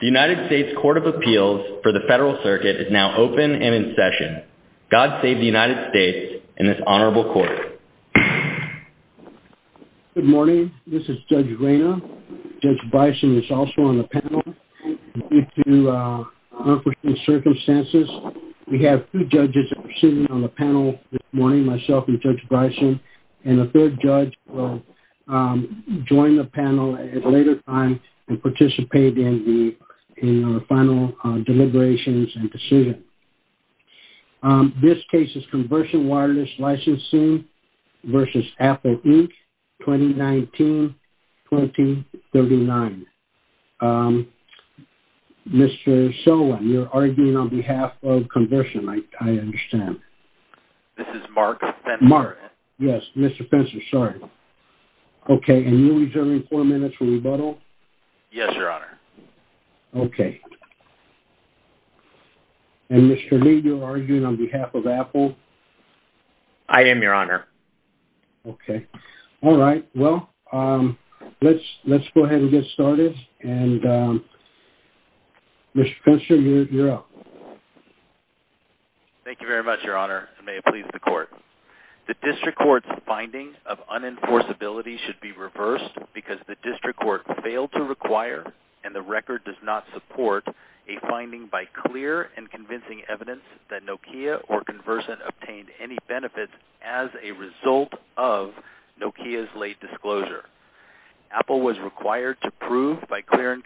The United States Court of Appeals for the Federal Circuit is now open and in session. God save the United States and this honorable court. Good morning, this is Judge Reyna. Judge Bison is also on the panel. Due to unforeseen circumstances, we have two judges sitting on the panel this morning, myself and Judge Bison, and the participate in the final deliberations and decision. This case is Conversion Wireless Licensing v. Apple Inc., 2019-2039. Mr. Solem, you're arguing on behalf of Conversion, I understand. This is Mark Spencer. Mark, yes, Mr. Spencer, sorry. Okay, and you're reserving four minutes for rebuttal? Yes, Your Honor. Okay, and Mr. Lee, you're arguing on behalf of Apple? I am, Your Honor. Okay, all right, well, let's let's go ahead and get started, and Mr. Spencer, you're up. Thank you very much, Your Honor, and may it please the court. The district court's finding of unenforceability should be reversed because the district court failed to require, and the record does not support, a finding by clear and convincing evidence that Nokia or Conversion obtained any benefits as a result of Nokia's late disclosure. Apple was required to prove by clear and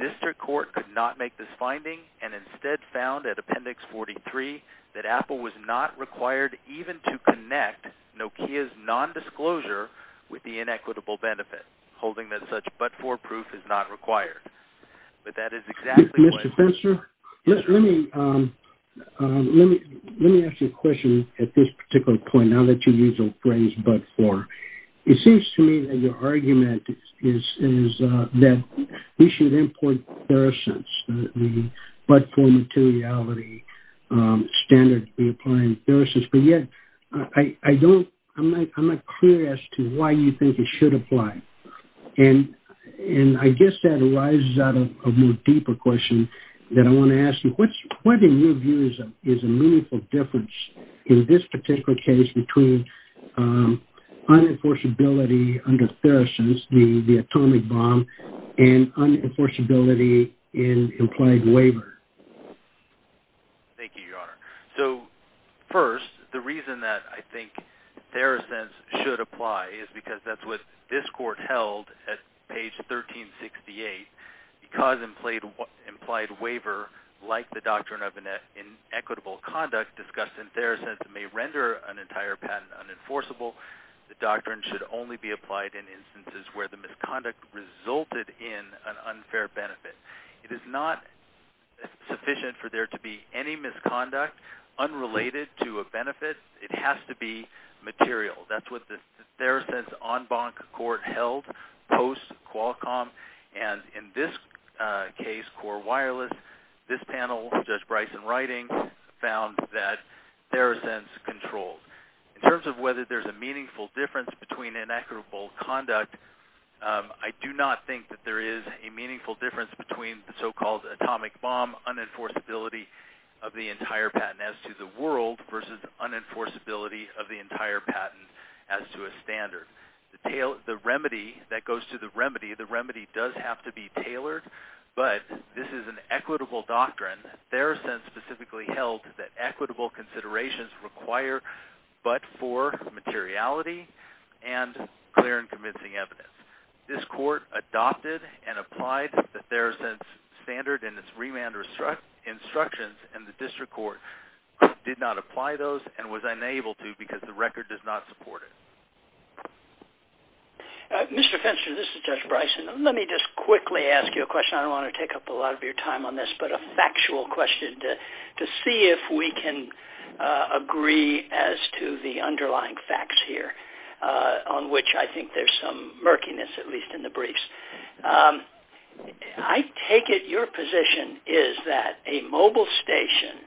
district court could not make this finding, and instead found at Appendix 43 that Apple was not required even to connect Nokia's non-disclosure with the inequitable benefit, holding that such but-for proof is not required. But that is exactly... Mr. Spencer, let me ask you a question at this particular point, now that you use the phrase but-for. It seems to me that your argument is that we should import Theracents, the but-for materiality standard to be applied in Theracents, but yet I don't... I'm not clear as to why you think it should apply, and I guess that arises out of a more deeper question that I want to ask you. What, in your view, is a meaningful difference in this particular case between unenforceability under Theracents, the atomic bomb, and unenforceability in implied waiver? Thank you, Your Honor. So, first, the reason that I think Theracents should apply is because that's what this court held at page 1368, because implied waiver, like the doctrine of an inequitable conduct discussed in Theracents, may render an entire patent unenforceable. The doctrine should only be applied in instances where the misconduct resulted in an unfair benefit. It is not sufficient for there to be any misconduct unrelated to a benefit. It has to be material. That's what the Theracents en banc court held post Qualcomm, and in this case, Core Wireless, this panel, Judge Bryson writing found that Theracents controlled. In terms of whether there's a meaningful difference between inequitable conduct, I do not think that there is a meaningful difference between the so-called atomic bomb unenforceability of the entire patent as to the world versus unenforceability of the entire patent as to a standard. The remedy that goes to the remedy, the remedy does have to be tailored, but this is an equitable doctrine. Theracents specifically held that equitable considerations require but for materiality and clear and convincing evidence. This court adopted and applied the Theracents standard and its remand instructions, and the district court did not apply those and was unable to because the record does not support it. Mr. Fenster, this is Judge Bryson. Let me just quickly ask you a question. I will question to see if we can agree as to the underlying facts here on which I think there's some murkiness, at least in the briefs. I take it your position is that a mobile station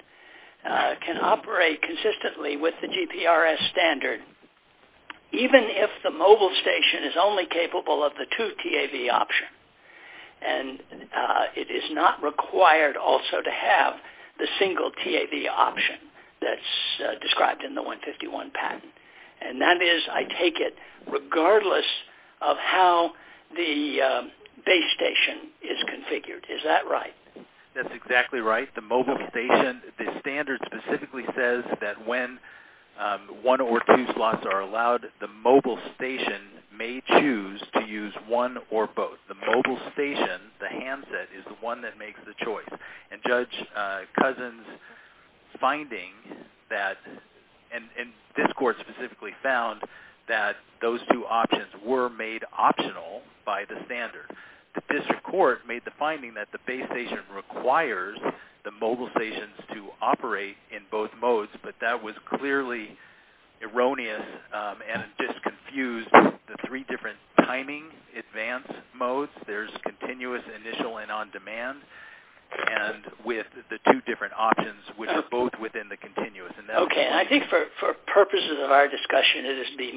can operate consistently with the GPRS standard even if the mobile station is only capable of the two TAV option, and it is not required also to have the single TAV option that's described in the 151 patent, and that is, I take it, regardless of how the base station is configured. Is that right? That's exactly right. The mobile station, the standard specifically says that when one or two slots are allowed, the mobile station may choose to be the one that makes the choice, and Judge Cousins' finding that, and this court specifically found that those two options were made optional by the standard. The district court made the finding that the base station requires the mobile stations to operate in both modes, but that was clearly erroneous and just confused the three different timing advance modes. There's continuous initial and on-demand, and with the two different options, which are both within the continuous. Okay, I think for purposes of our discussion, it is the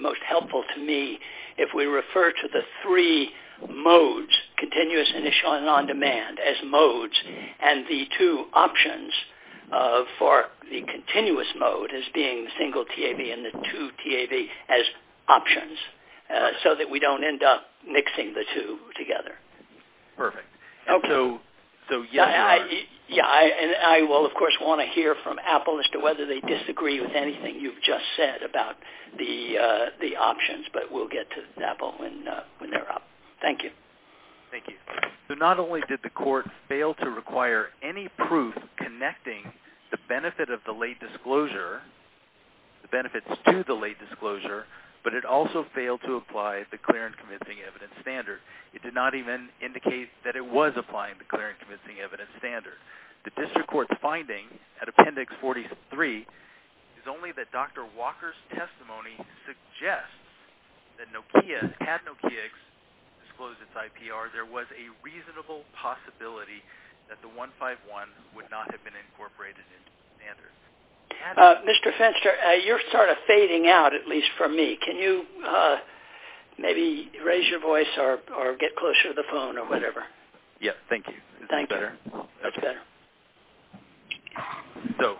most helpful to me if we refer to the three modes, continuous initial and on-demand as modes, and the two options for the continuous mode as being single TAV and the two TAV as options, so that we don't end up mixing the two together. Perfect. Okay, so yeah, I will of course want to hear from Apple as to whether they disagree with anything you've just said about the options, but we'll get to Apple when they're up. Thank you. Thank you. So not only did the court fail to require any proof connecting the benefit of the late disclosure, the benefits to the late disclosure, but it also failed to apply the clear and convincing evidence standard. It did not even indicate that it was applying the clear and convincing evidence standard. The district court's finding at appendix 43 is only that Dr. Walker's testimony suggests that Nokia, had Nokia disclosed its IPR, there was a reasonable possibility that the 151 would not have been incorporated into the standard. Mr. Fenster, you're sort of at least for me. Can you maybe raise your voice or get closer to the phone or whatever? Yeah, thank you. Thank you. That's better. So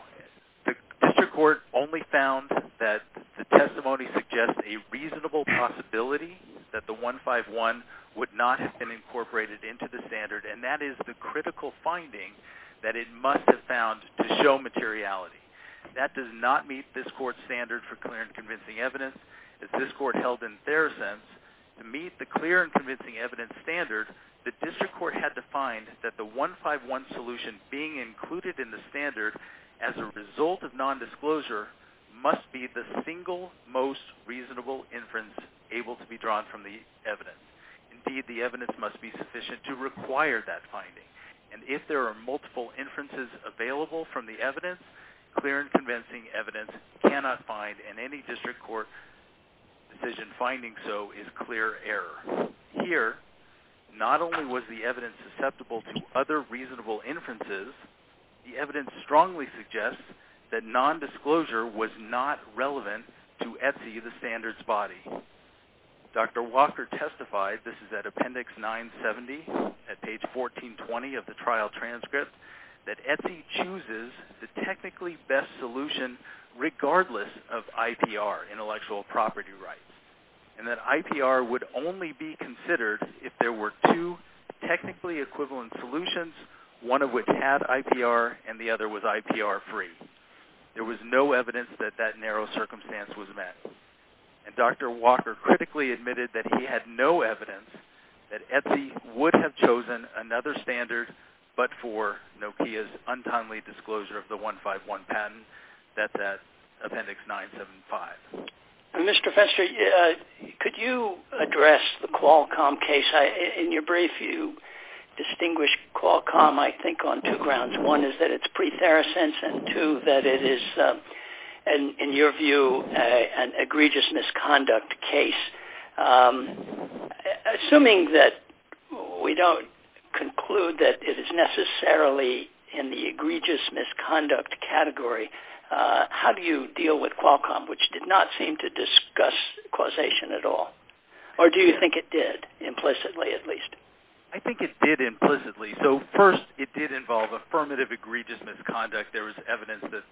the district court only found that the testimony suggests a reasonable possibility that the 151 would not have been incorporated into the standard, and that is the critical finding that it must have found to show materiality. That does not meet this court's standard for clear and convincing evidence. This court held in their sense to meet the clear and convincing evidence standard, the district court had to find that the 151 solution being included in the standard as a result of non-disclosure must be the single most reasonable inference able to be drawn from the evidence. Indeed, the evidence must be sufficient to require that finding, and if there are multiple inferences available from the evidence, clear and convincing evidence, any district court decision finding so is clear error. Here, not only was the evidence susceptible to other reasonable inferences, the evidence strongly suggests that non-disclosure was not relevant to Etsy, the standards body. Dr. Walker testified, this is at appendix 970 at page 1420 of the trial transcript, that Etsy chooses the technically best solution regardless of IPR, intellectual property rights, and that IPR would only be considered if there were two technically equivalent solutions, one of which had IPR and the other was IPR free. There was no evidence that that narrow circumstance was met, and Dr. Walker critically admitted that he had no evidence that Etsy would have chosen another standard but for Nokia's untimely disclosure of the 151 patent that's at appendix 975. Mr. Fester, could you address the Qualcomm case? In your brief, you distinguished Qualcomm, I think, on two grounds. One is that it's pre-Theracense, and two, that it is, in your view, an egregious misconduct case. Assuming that we don't conclude that it is necessarily in the egregious misconduct category, how do you deal with Qualcomm, which did not seem to discuss causation at all? Or do you think it did, implicitly at least? I think it did implicitly. So first, it did involve affirmative egregious misconduct. There was evidence that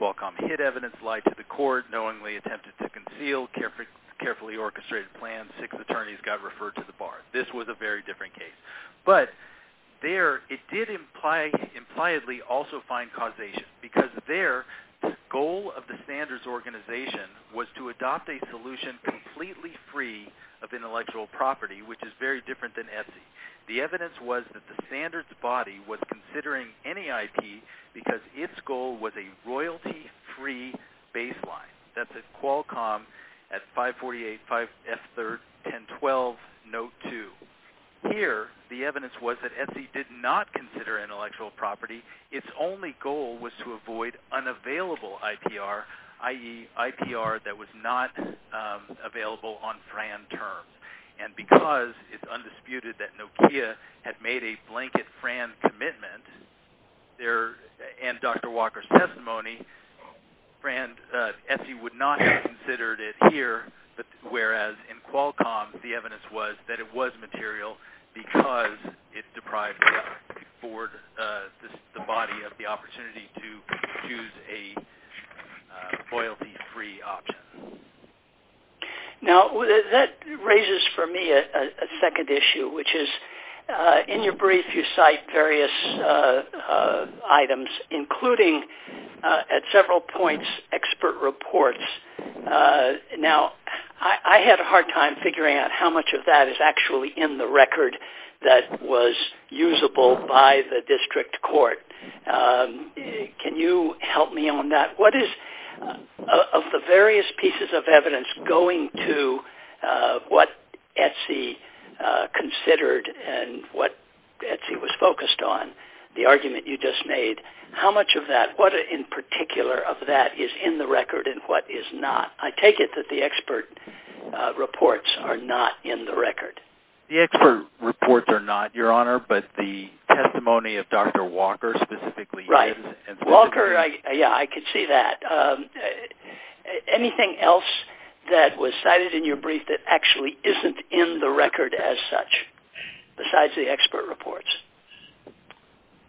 Qualcomm hid evidence, lied to the court, knowingly attempted to orchestrate a plan, six attorneys got referred to the bar. This was a very different case. But there, it did impliedly also find causation, because their goal of the standards organization was to adopt a solution completely free of intellectual property, which is very different than Etsy. The evidence was that the standards body was considering NAIP because its goal was a royalty-free baseline. That's at Qualcomm at 548, 5F3, 1012, Note 2. Here, the evidence was that Etsy did not consider intellectual property. Its only goal was to avoid unavailable IPR, i.e., IPR that was not available on FRAN terms. And because it's undisputed that Nokia had made a blanket FRAN commitment, and Dr. Walker's testimony, Etsy would not have considered it here, whereas in Qualcomm, the evidence was that it was material because it deprived Ford, the body, of the opportunity to choose a loyalty-free option. Now, that raises for me a second issue, which is, in your brief, you cite various items, including, at several points, expert reports. Now, I had a hard time figuring out how much of that is actually in the record that was usable by the district court. Can you help me on that? What is, of the various pieces of evidence going to what Etsy considered and what Etsy was focused on, the argument you just made, how much of that, what in particular of that, is in the record and what is not? I take it that the expert reports are not in the record. The expert reports are not, Your Honor, but the testimony of Dr. Walker specifically is. Right. Walker, yeah, I could see that. Anything else that was cited in your brief that actually isn't in the record as such, besides the expert reports?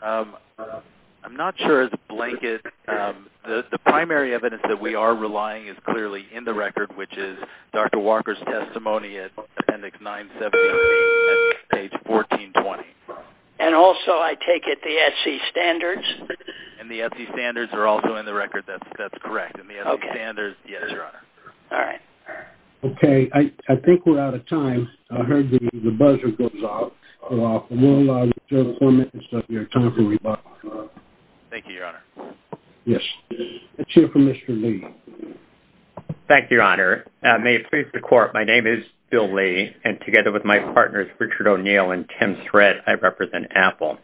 I'm not sure, as a blanket, the primary evidence that we are relying is clearly in the record, which is Dr. Walker's testimony at Appendix 973, page 1420. And also, I take it, the Etsy standards? And the Etsy standards are also in the record, that's correct. Okay. And the Etsy standards, yes, Your Honor. All right. Okay, I think we're out of time. I heard the buzzer goes off. We'll allow you four minutes of your time to respond. Thank you, Your Honor. Yes, let's hear from Mr. Lee. Thank you, Your Honor. May it please the court, my name is Bill Lee, and together with my partners, Richard O'Neill and Tim Shred, I represent Apple.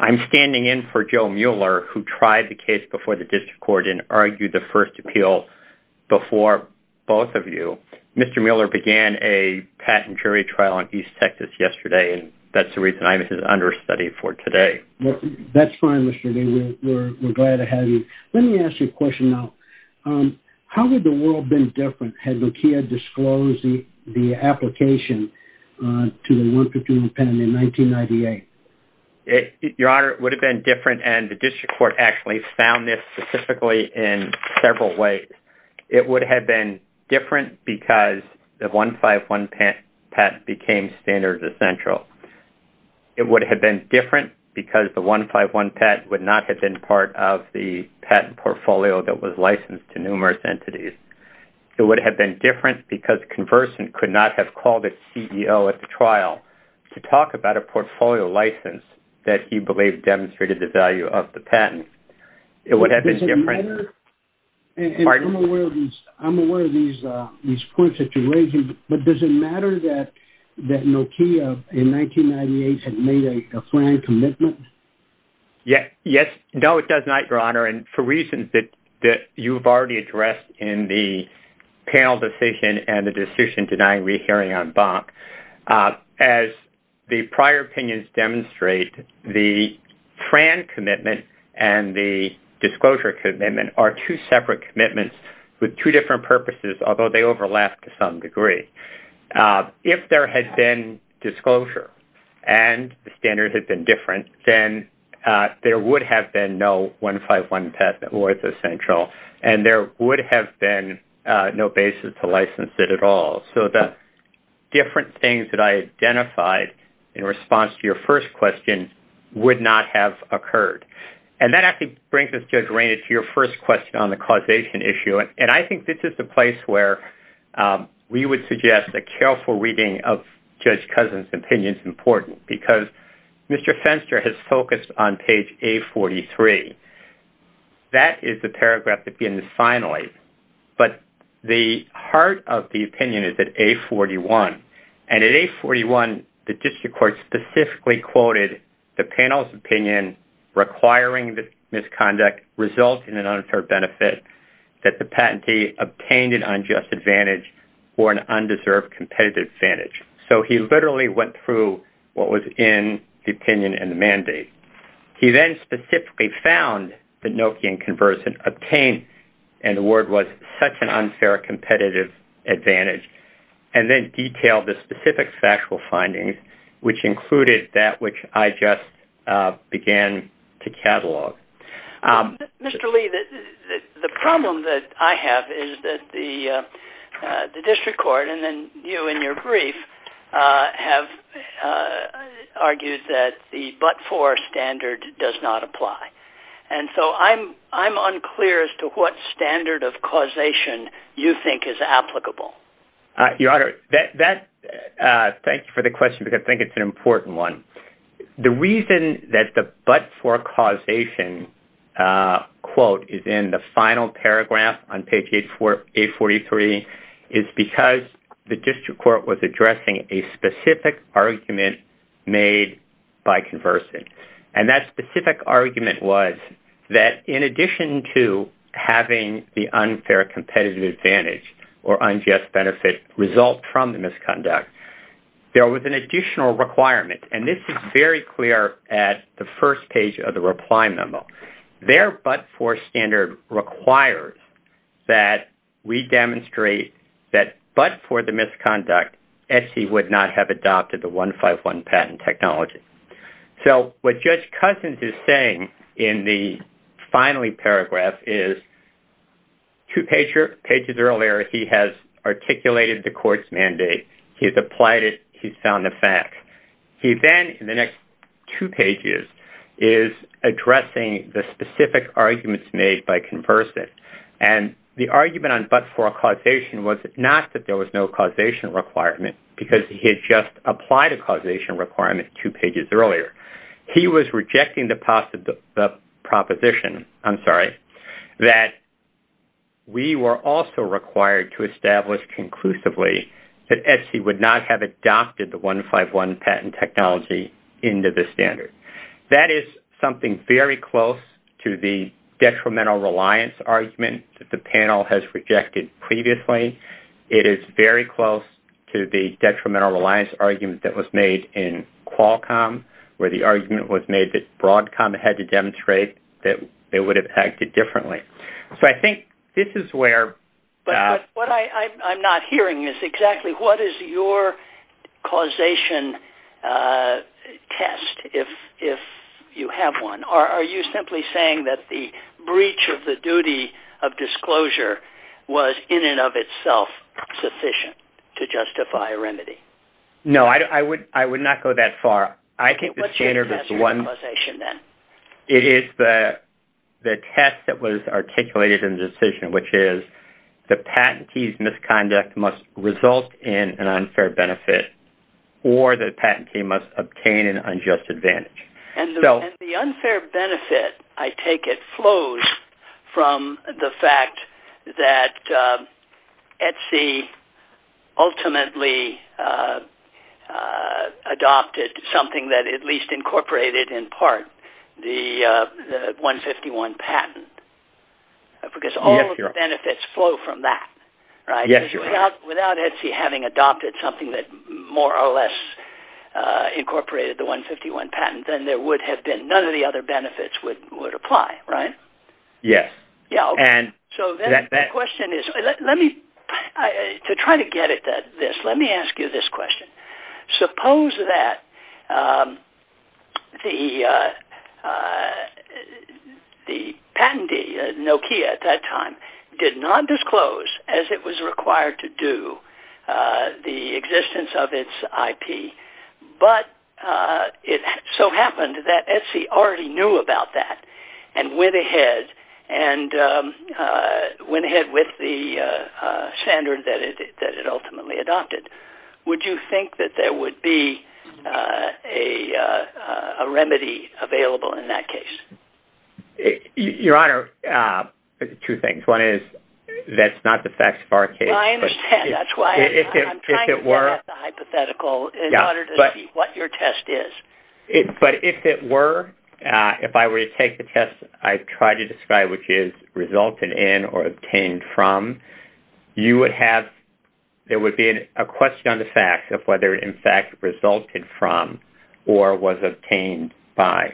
I'm standing in for Joe Mueller, who tried the case before the District Court and argued the first appeal before both of you. Mr. Lee, you had a patent jury trial on East Texas yesterday, and that's the reason I'm his understudy for today. Well, that's fine, Mr. Lee. We're glad to have you. Let me ask you a question now. How would the world have been different had Makiya disclosed the application to the 151 pen in 1998? Your Honor, it would have been different, and the District Court actually found this specifically in several ways. It would have been different because the 151 patent became standard essential. It would have been different because the 151 patent would not have been part of the patent portfolio that was licensed to numerous entities. It would have been different because Conversant could not have called its CEO at the trial to talk about a portfolio license that he believed demonstrated the value of the patent. It would have been different. I'm aware of these points that you're raising, but does it matter that Makiya in 1998 had made a FRAN commitment? Yes. No, it does not, Your Honor, and for reasons that you've already addressed in the panel decision and the decision denying re-hearing on Bonk. As the prior opinions demonstrate, the FRAN commitment and the disclosure commitment are two separate commitments with two different purposes, although they overlap to some degree. If there had been disclosure and the standard had been different, then there would have been no 151 patent or it's essential, and there would have been no basis to license it at all. So the different things that I identified in response to your first question would not have occurred, and that actually brings us, Judge Rainey, to your first question on the causation issue, and I think this is the place where we would suggest a careful reading of Judge Cousin's opinion is important because Mr. Fenster has focused on page A43. That is the paragraph that begins finally, but the heart of the opinion is at A41, and at A41, the district court specifically quoted the panel's opinion requiring this misconduct result in an unfair benefit that the patentee obtained an unjust advantage or an undeserved competitive advantage. So he literally went through what was in the opinion and the mandate. He then specifically found that Nokia and Converse had obtained, and the word was, such an unfair competitive advantage, and then detailed the factual findings, which included that which I just began to catalog. Mr. Lee, the problem that I have is that the district court and then you in your brief have argued that the but-for standard does not apply, and so I'm unclear as to what standard of causation you think is applicable. Your Honor, thank you for the question because I think it's an important one. The reason that the but-for causation quote is in the final paragraph on page A43 is because the district court was addressing a specific argument made by Converse, and that specific argument was that in addition to having the unfair competitive advantage or unjust benefit result from the misconduct, there was an additional requirement, and this is very clear at the first page of the reply memo. Their but-for standard requires that we demonstrate that but for the misconduct, SC would not have adopted the 151 patent technology. So what Judge Pages earlier, he has articulated the court's mandate. He has applied it. He's found the fact. He then, in the next two pages, is addressing the specific arguments made by Converse, and the argument on but-for causation was not that there was no causation requirement because he had just applied a causation requirement two pages earlier. He was rejecting the proposition that we were also required to establish conclusively that SC would not have adopted the 151 patent technology into the standard. That is something very close to the detrimental reliance argument that the panel has rejected previously. It is very close to the detrimental reliance argument that was made in Qualcomm, where the argument was made that Broadcom had to they would have acted differently. So I think this is where. But what I'm not hearing is exactly what is your causation test, if you have one, or are you simply saying that the breach of the duty of disclosure was in and of itself sufficient to justify a remedy? No, I would not go that far. I think the test that was articulated in the decision, which is the patentee's misconduct must result in an unfair benefit, or the patentee must obtain an unjust advantage. And the unfair benefit, I take it, flows from the fact that Etsy ultimately adopted something that at least incorporated in part the 151 patent? Because all the benefits flow from that, right? Without Etsy having adopted something that more or less incorporated the 151 patent, then there would have been none of the other benefits would apply, right? Yes. Yeah. So that question is, let me try to get at this. Let me ask you this question. Suppose that the the patentee, Nokia at that time, did not disclose as it was required to do the existence of its IP. But it so happened that Etsy already knew about that, and went ahead with the standard that it ultimately adopted. Would you think that there would be a remedy available in that case? Your Honor, two things. One is, that's not the facts of our case. I understand. That's why I'm trying to get at the hypothetical in order to see what your test is. But if it were, if I were to take the test I tried to describe, which is resulted in or obtained from, you would have, there would be a question on the facts of whether it in fact resulted from or was obtained by.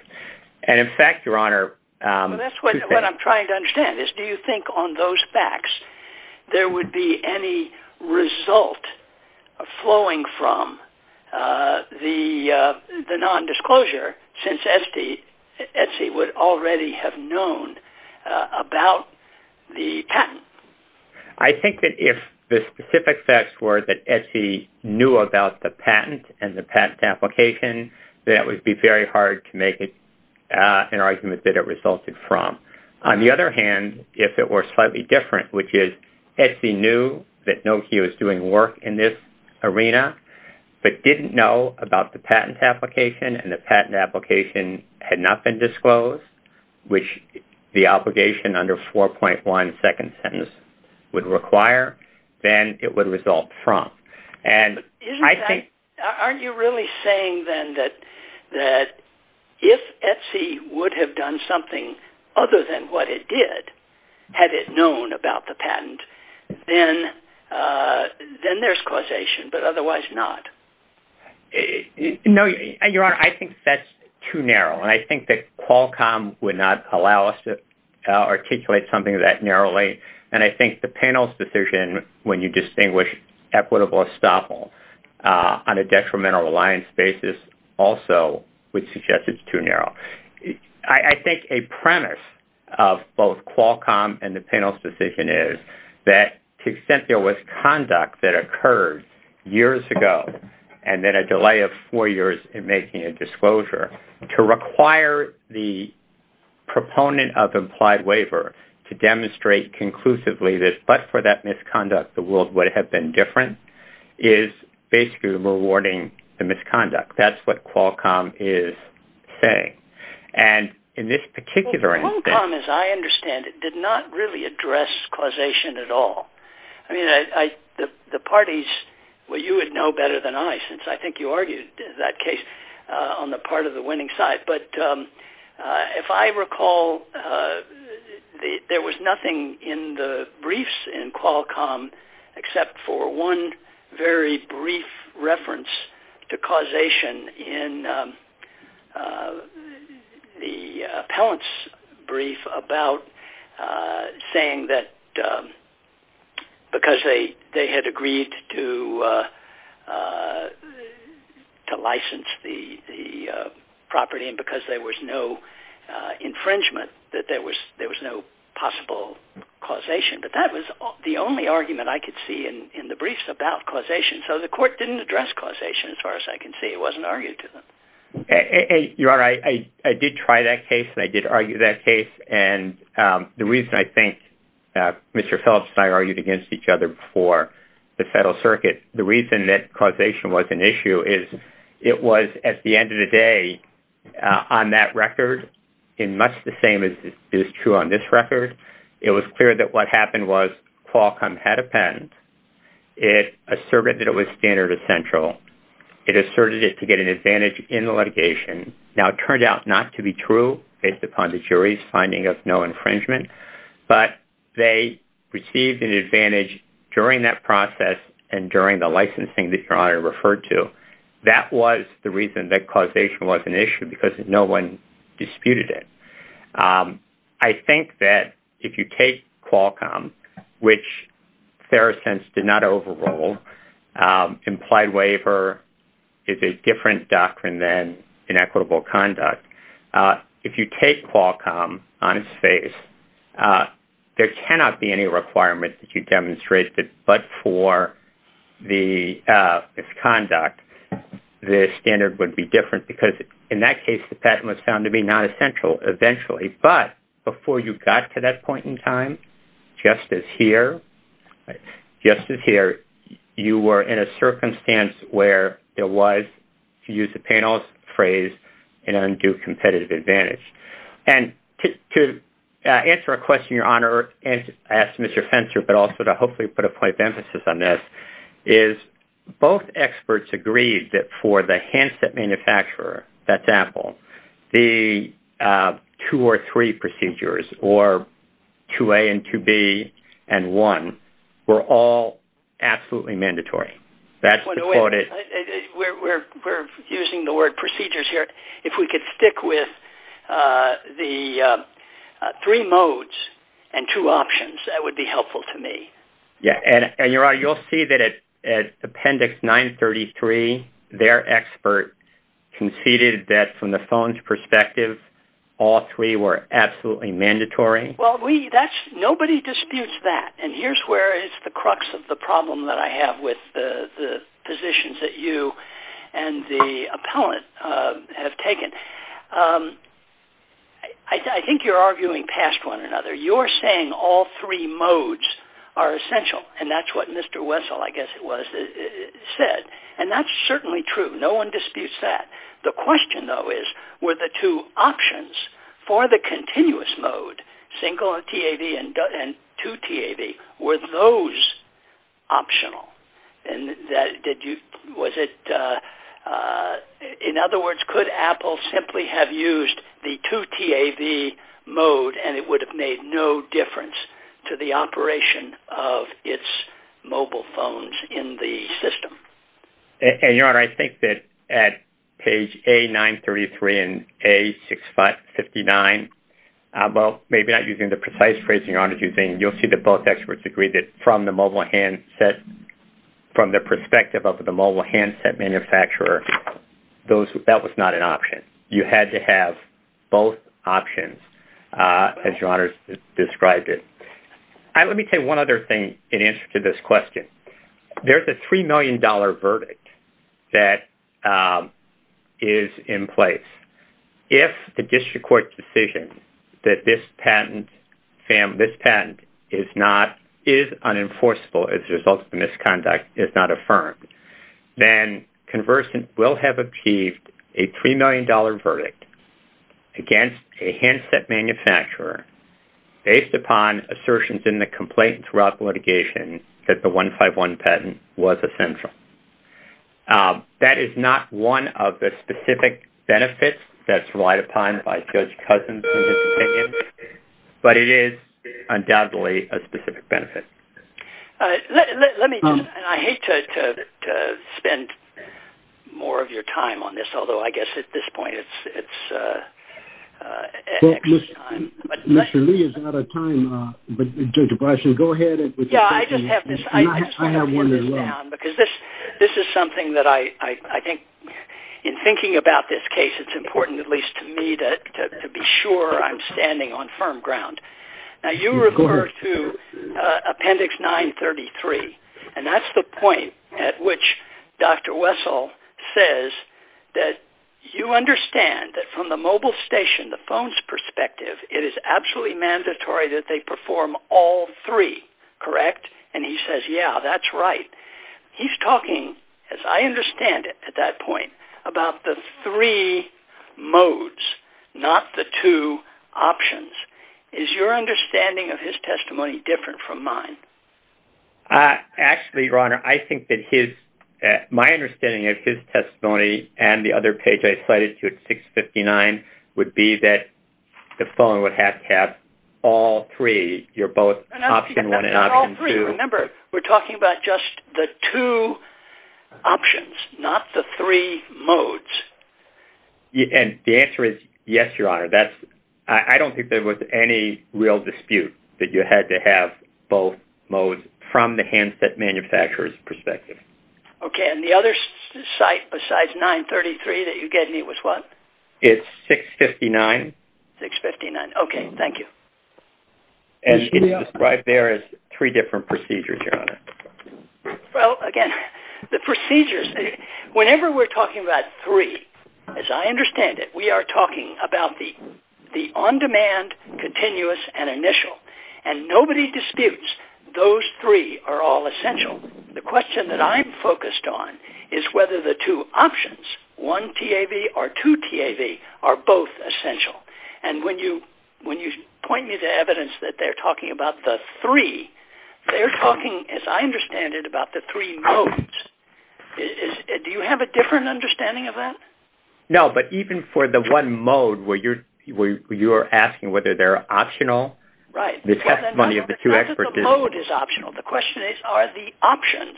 And in fact, Your Honor, that's what I'm trying to understand is, do you think on those facts, there would be any result flowing from the non-disclosure since Etsy would already have known about the patent? I think that if the specific facts were that Etsy knew about the patent and the patent application, that would be very hard to make an argument that it resulted from. On the other hand, if it were slightly different, which is Etsy knew that Nokia was doing work in this arena, but didn't know about the patent application and the patent application had not been disclosed, which the obligation under 4.1 second sentence would require, then it would result from. And I think, aren't you really saying then that, that if Etsy would have done something other than what it did, had it known about the patent, then, then there's causation, but otherwise not? No, Your Honor, I think that's too narrow. And I think that Qualcomm would not allow us to articulate something that narrowly. And I think the panel's decision, when you distinguish equitable estoppel on a detrimental reliance basis, also would suggest it's too narrow. I think a premise of both Qualcomm and the panel's decision is that to the extent there was conduct that occurred years ago, and then a delay of four years in making a disclosure, to require the proponent of implied waiver to demonstrate conclusively that, but for that misconduct, the world would have been different, is basically rewarding the misconduct. That's what Qualcomm is saying. And in this particular instance... Well, Qualcomm, as I understand it, did not really address causation at all. I mean, I, the parties, well, you would know better than I, since I think you argued that case on the part of the winning side. But if I recall, there was nothing in the briefs in Qualcomm, except for one very brief reference to causation in the appellant's brief about saying that because they had agreed to license the property, and because there was no infringement, that there was no possible causation. But that was the only argument I could see in the briefs about causation. So the court didn't address causation, as far as I can see. It wasn't argued to them. Your Honor, I did try that case, and I did argue that case. And the reason I think Mr. Phillips and I argued against each other before the Federal Circuit, the reason that causation was an issue is, it was, at the end of the day, on that record, in much the same as is true on this record, it was clear that what happened was Qualcomm had a patent. It asserted that it was standard essential. It asserted it to get an advantage in the litigation. Now, it turned out not to be true, based upon the jury's finding of no infringement. But they received an advantage during that process. And during the licensing that Your Honor referred to, that was the reason that causation was an issue because no one disputed it. I think that if you take Qualcomm, which Therosense did not overrule, implied waiver is a different doctrine than inequitable conduct. If you take Qualcomm on its face, there cannot be any requirement that you demonstrate that but for the conduct, the standard would be different because in that case, the patent was found to be not essential eventually. But before you got to that point in time, just as here, just as here, you were in a circumstance where there was, to use the panel's phrase, an undue competitive advantage. And to answer a question, Your Honor, and ask Mr. Fentzer, but also to hopefully put a point of emphasis on this, is both experts agreed that for the handset manufacturer, that's Apple, the two or three procedures, or 2A and 2B and 1, were all absolutely mandatory. That's the quote. We're using the word procedures here. If we could stick with the three modes and two options, that would be helpful to me. Yeah, and Your Honor, you'll see that at Appendix 933, their expert conceded that from the phone's perspective, all three were absolutely mandatory. Well, nobody disputes that. And here's where it's the crux of the problem that I have with the positions that you and the appellant have taken. I think you're right. All three modes are essential. And that's what Mr. Wessel, I guess it was, said. And that's certainly true. No one disputes that. The question, though, is, were the two options for the continuous mode, single TAV and two TAV, were those optional? In other words, could Apple simply have used the two TAV modes, and there would be no difference to the operation of its mobile phones in the system? And Your Honor, I think that at page A933 and A659, well, maybe not using the precise phrasing, Your Honor, you'll see that both experts agree that from the mobile handset, from the perspective of the mobile handset manufacturer, that was not an option. You had to have both options, as Your Honor has described it. Let me tell you one other thing in answer to this question. There's a $3 million verdict that is in place. If the district court decision that this patent is not, is unenforceable as a result of the misconduct is not affirmed, then Conversant will have achieved a $3 million verdict for the mobile handset manufacturer based upon assertions in the complaint throughout litigation that the 151 patent was essential. That is not one of the specific benefits that's relied upon by Judge Cousins in his opinion, but it is undoubtedly a specific benefit. Let me, and I hate to spend more of your time on this, although I guess at this time... Mr. Lee is out of time, but Judge Bryson, go ahead. Yeah, I just have this. I have one as well. Because this is something that I think, in thinking about this case, it's important, at least to me, to be sure I'm standing on firm ground. Now, you refer to Appendix 933, and that's the point at which Dr. Wessel says that you understand that from the mobile station, the phone's perspective, it is absolutely mandatory that they perform all three, correct? And he says, yeah, that's right. He's talking, as I understand it at that point, about the three modes, not the two options. Is your understanding of his testimony different from mine? Actually, Your Honor, I think that his, my understanding of his testimony and the other page I cited, page 659, would be that the phone would have to have all three. You're both option 1 and option 2. Remember, we're talking about just the two options, not the three modes. And the answer is yes, Your Honor. I don't think there was any real dispute that you had to have both modes from the handset manufacturer's perspective. Okay, and the other site besides 933 that you gave me was what? It's 659. 659, okay, thank you. And it's described there as three different procedures, Your Honor. Well, again, the procedures, whenever we're talking about three, as I understand it, we are talking about the on-demand, continuous, and initial. And nobody disputes those three are all essential. The question that I'm focused on is whether the two options, one TAV or two TAV, are both essential. And when you point me to evidence that they're talking about the three, they're talking, as I understand it, about the three modes. Do you have a different understanding of that? No, but even for the one mode where you're asking whether they're optional, the question is, are the options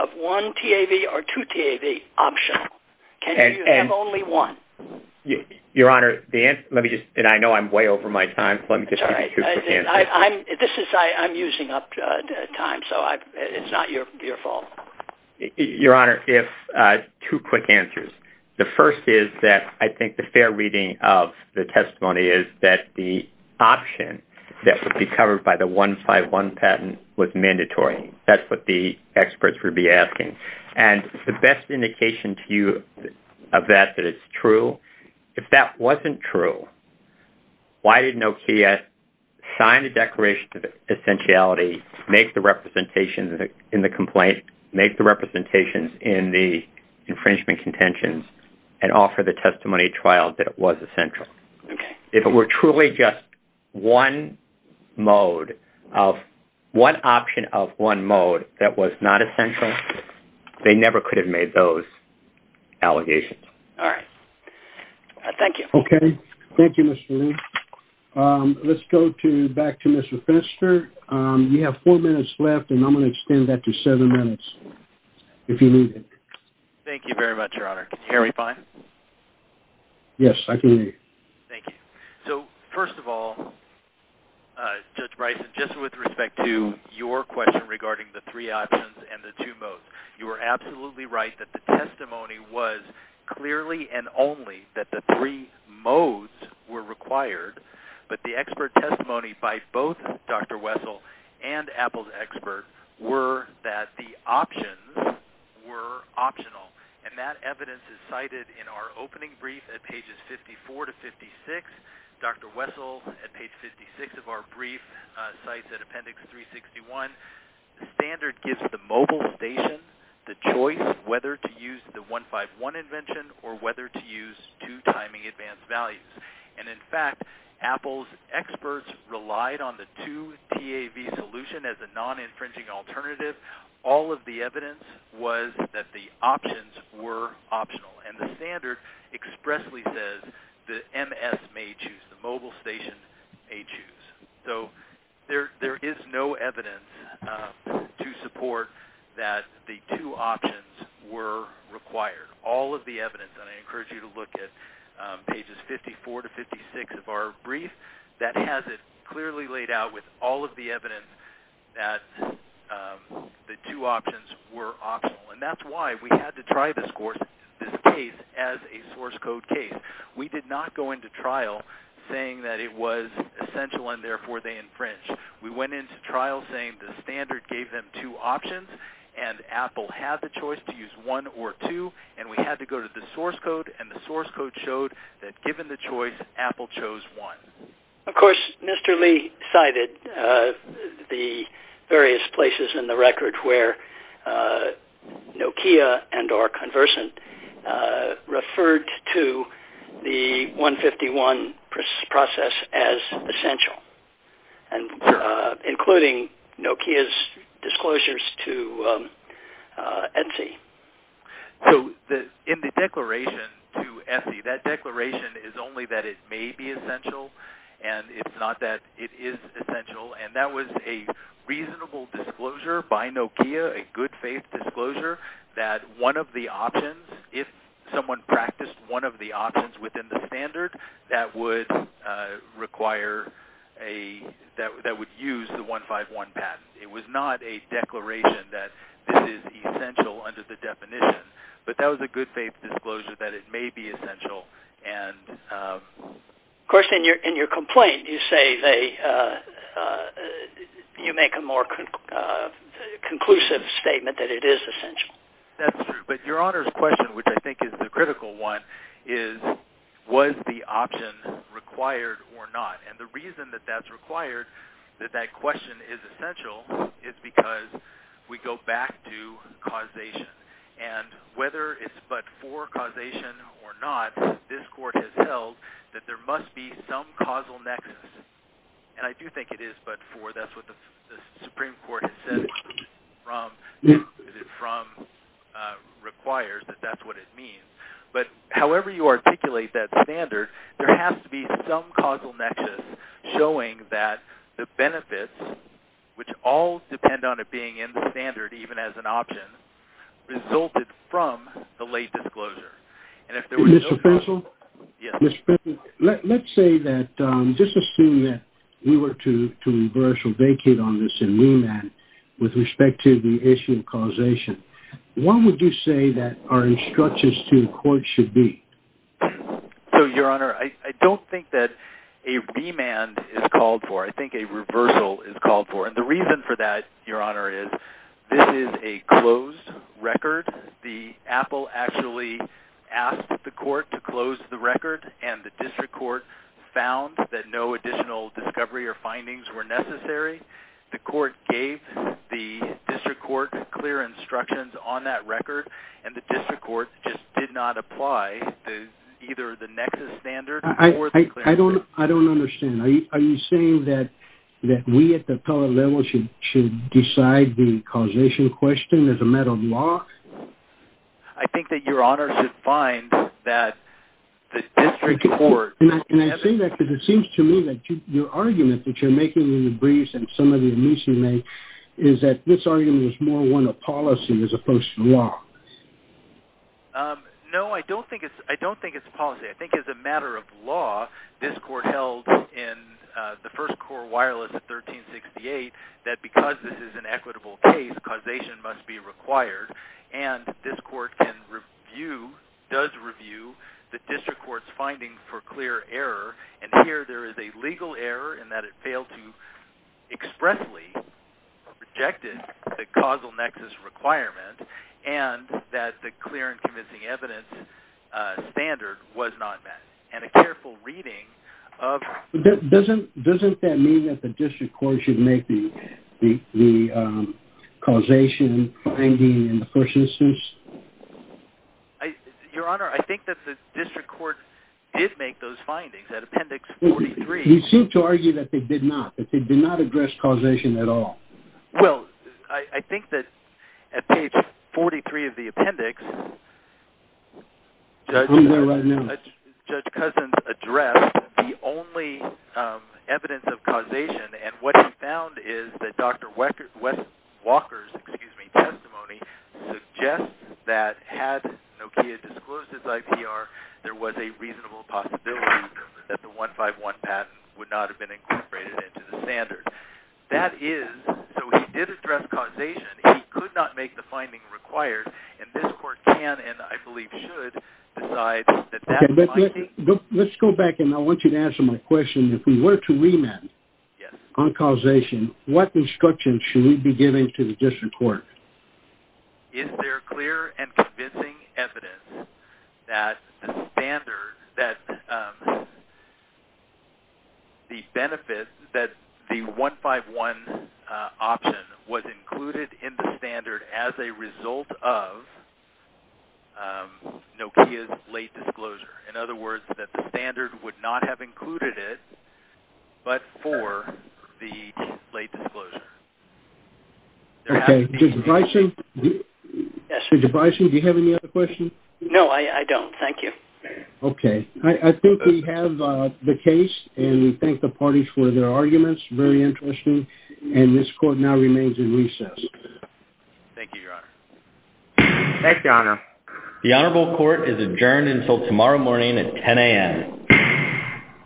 of one TAV or two TAV optional? Can you have only one? Your Honor, let me just, and I know I'm way over my time, so let me just give you two quick answers. This is, I'm using up time, so it's not your fault. Your Honor, two quick answers. The first is that I think the fair reading of the testimony is that the option that would be covered by the 151 patent was mandatory. That's what the experts would be asking. And the best indication to you of that, that it's true, if that wasn't true, why did NOCIA sign a declaration of essentiality, make the representations in the complaint, make the representations in the infringement contentions, and offer the testimony trial that it was essential? If it were truly just one mode of, one option of one mode that was not essential, they never could have made those allegations. All right. Thank you. Okay. Thank you, Mr. Lee. Let's go back to Mr. Finster. You have four minutes left, and I'm going to extend that to seven minutes, if you need it. Thank you very much, Your Honor. Can you hear me fine? Yes, I can hear you. Thank you. So, first of all, Judge Bryson, just with respect to your question regarding the three options and the two modes, you were absolutely right that the testimony was clearly and only that the three modes were required, but the expert testimony by both Dr. Wessel and Apple's expert were that the options were optional, and that evidence is cited in our opening brief at pages 54 to 56. Dr. Wessel, at page 56 of our brief, cites at appendix 361, the standard gives the mobile station the choice of whether to use the 151 invention or whether to use two timing advanced values, and in fact, Apple's experts relied on the two TAV solution as a non-infringing alternative. All of the evidence was that the options were optional, and the standard expressly says the MS may choose, the mobile station may choose. So, there is no evidence to support that the two options were required. All of the evidence, and I encourage you to look at pages 54 to 56 of our brief, the two options were optional, and that's why we had to try this case as a source code case. We did not go into trial saying that it was essential and therefore they infringed. We went into trial saying the standard gave them two options, and Apple had the choice to use one or two, and we had to go to the source code, and the source code showed that given the choice, Apple chose one. Of course, Mr. Lee cited the various places in the record where Nokia and or Conversant referred to the 151 process as essential, including Nokia's disclosures to Etsy. So, in the declaration to Etsy, that declaration is only that it may be essential, and it's not that it is essential, and that was a reasonable disclosure by Nokia, a good faith disclosure, that one of the options, if someone practiced one of the options within the standard, that would require a, that would use the 151 patent. It was not a declaration that this is essential under the definition, but that was a good faith disclosure that it may be essential, and... Of course, in your complaint, you say they, you make a more conclusive statement that it is essential. That's true, but Your Honor's question, which I think is the critical one, is was the option required or not, and the reason that that's required, that that question is essential, is because we go back to causation, and whether it's but for causation or not, this court has held that there must be some causal nexus, and I do think it is but for, that's what the Supreme Court has said, from, requires that that's what it means, but however you articulate that standard, there has to be some causal nexus showing that the benefits, which all depend on it being in the standard, even as an option, resulted from the late disclosure, and if there was... Mr. Bessel, let's say that, just assume that we were to reversal, vacate on this in remand with respect to the issue of causation, what would you say that our instructions to the court should be? So, Your Honor, I don't think that a remand is called for. I think a reversal is called for, and the reason for that, Your Honor, is this is a closed record. The Apple actually asked the court to close the record, and the district court found that no additional discovery or findings were necessary. The court gave the district court clear instructions on that record, and the district court just did not apply to either the nexus standard or the... I don't understand. Are you saying that we at the appellate level should decide the causation question as a matter of law? I think that Your Honor should find that the district court... Can I say that? Because it seems to me that your argument that you're making in the briefs and some of the amici make is that this argument is more one of policy as opposed to law. No, I don't think it's policy. I think as a matter of law, this court held in the first wireless at 1368 that because this is an equitable case, causation must be required, and this court can review, does review, the district court's finding for clear error, and here there is a legal error in that it failed to expressly rejected the causal nexus requirement and that the clear and convincing evidence standard was not met, and a careful reading of... Doesn't that mean that the district court should make the causation finding in the first instance? Your Honor, I think that the district court did make those findings at appendix 43. You seem to argue that they did not, that they did not address causation at all. Well, I think that at page 43 of the appendix... I'm there right now. Judge Cousins addressed the only evidence of causation, and what he found is that Dr. Walker's testimony suggests that had Nokia disclosed its IPR, there was a reasonable possibility that the 151 patent would not have been incorporated into the standard. That is, so he did address causation. He could not make the finding required, and this court can, and I believe should, decide that that finding... Let's go back, and I want you to answer my question. If we were to remand on causation, what instruction should we be giving to the district court? Is there clear and convincing evidence that the standard, that the benefit, that the 151 option was included in the standard as a result of Nokia's late disclosure? In other words, that the standard would not have included it, but for the late disclosure? Okay. Judge Bysshe, do you have any other questions? No, I don't. Thank you. Okay. I think we have the case, and we thank the parties for their arguments. Very interesting, and this court now remains in recess. Thank you, Your Honor. Thanks, Your Honor. The Honorable Court is adjourned until tomorrow morning at 10 a.m.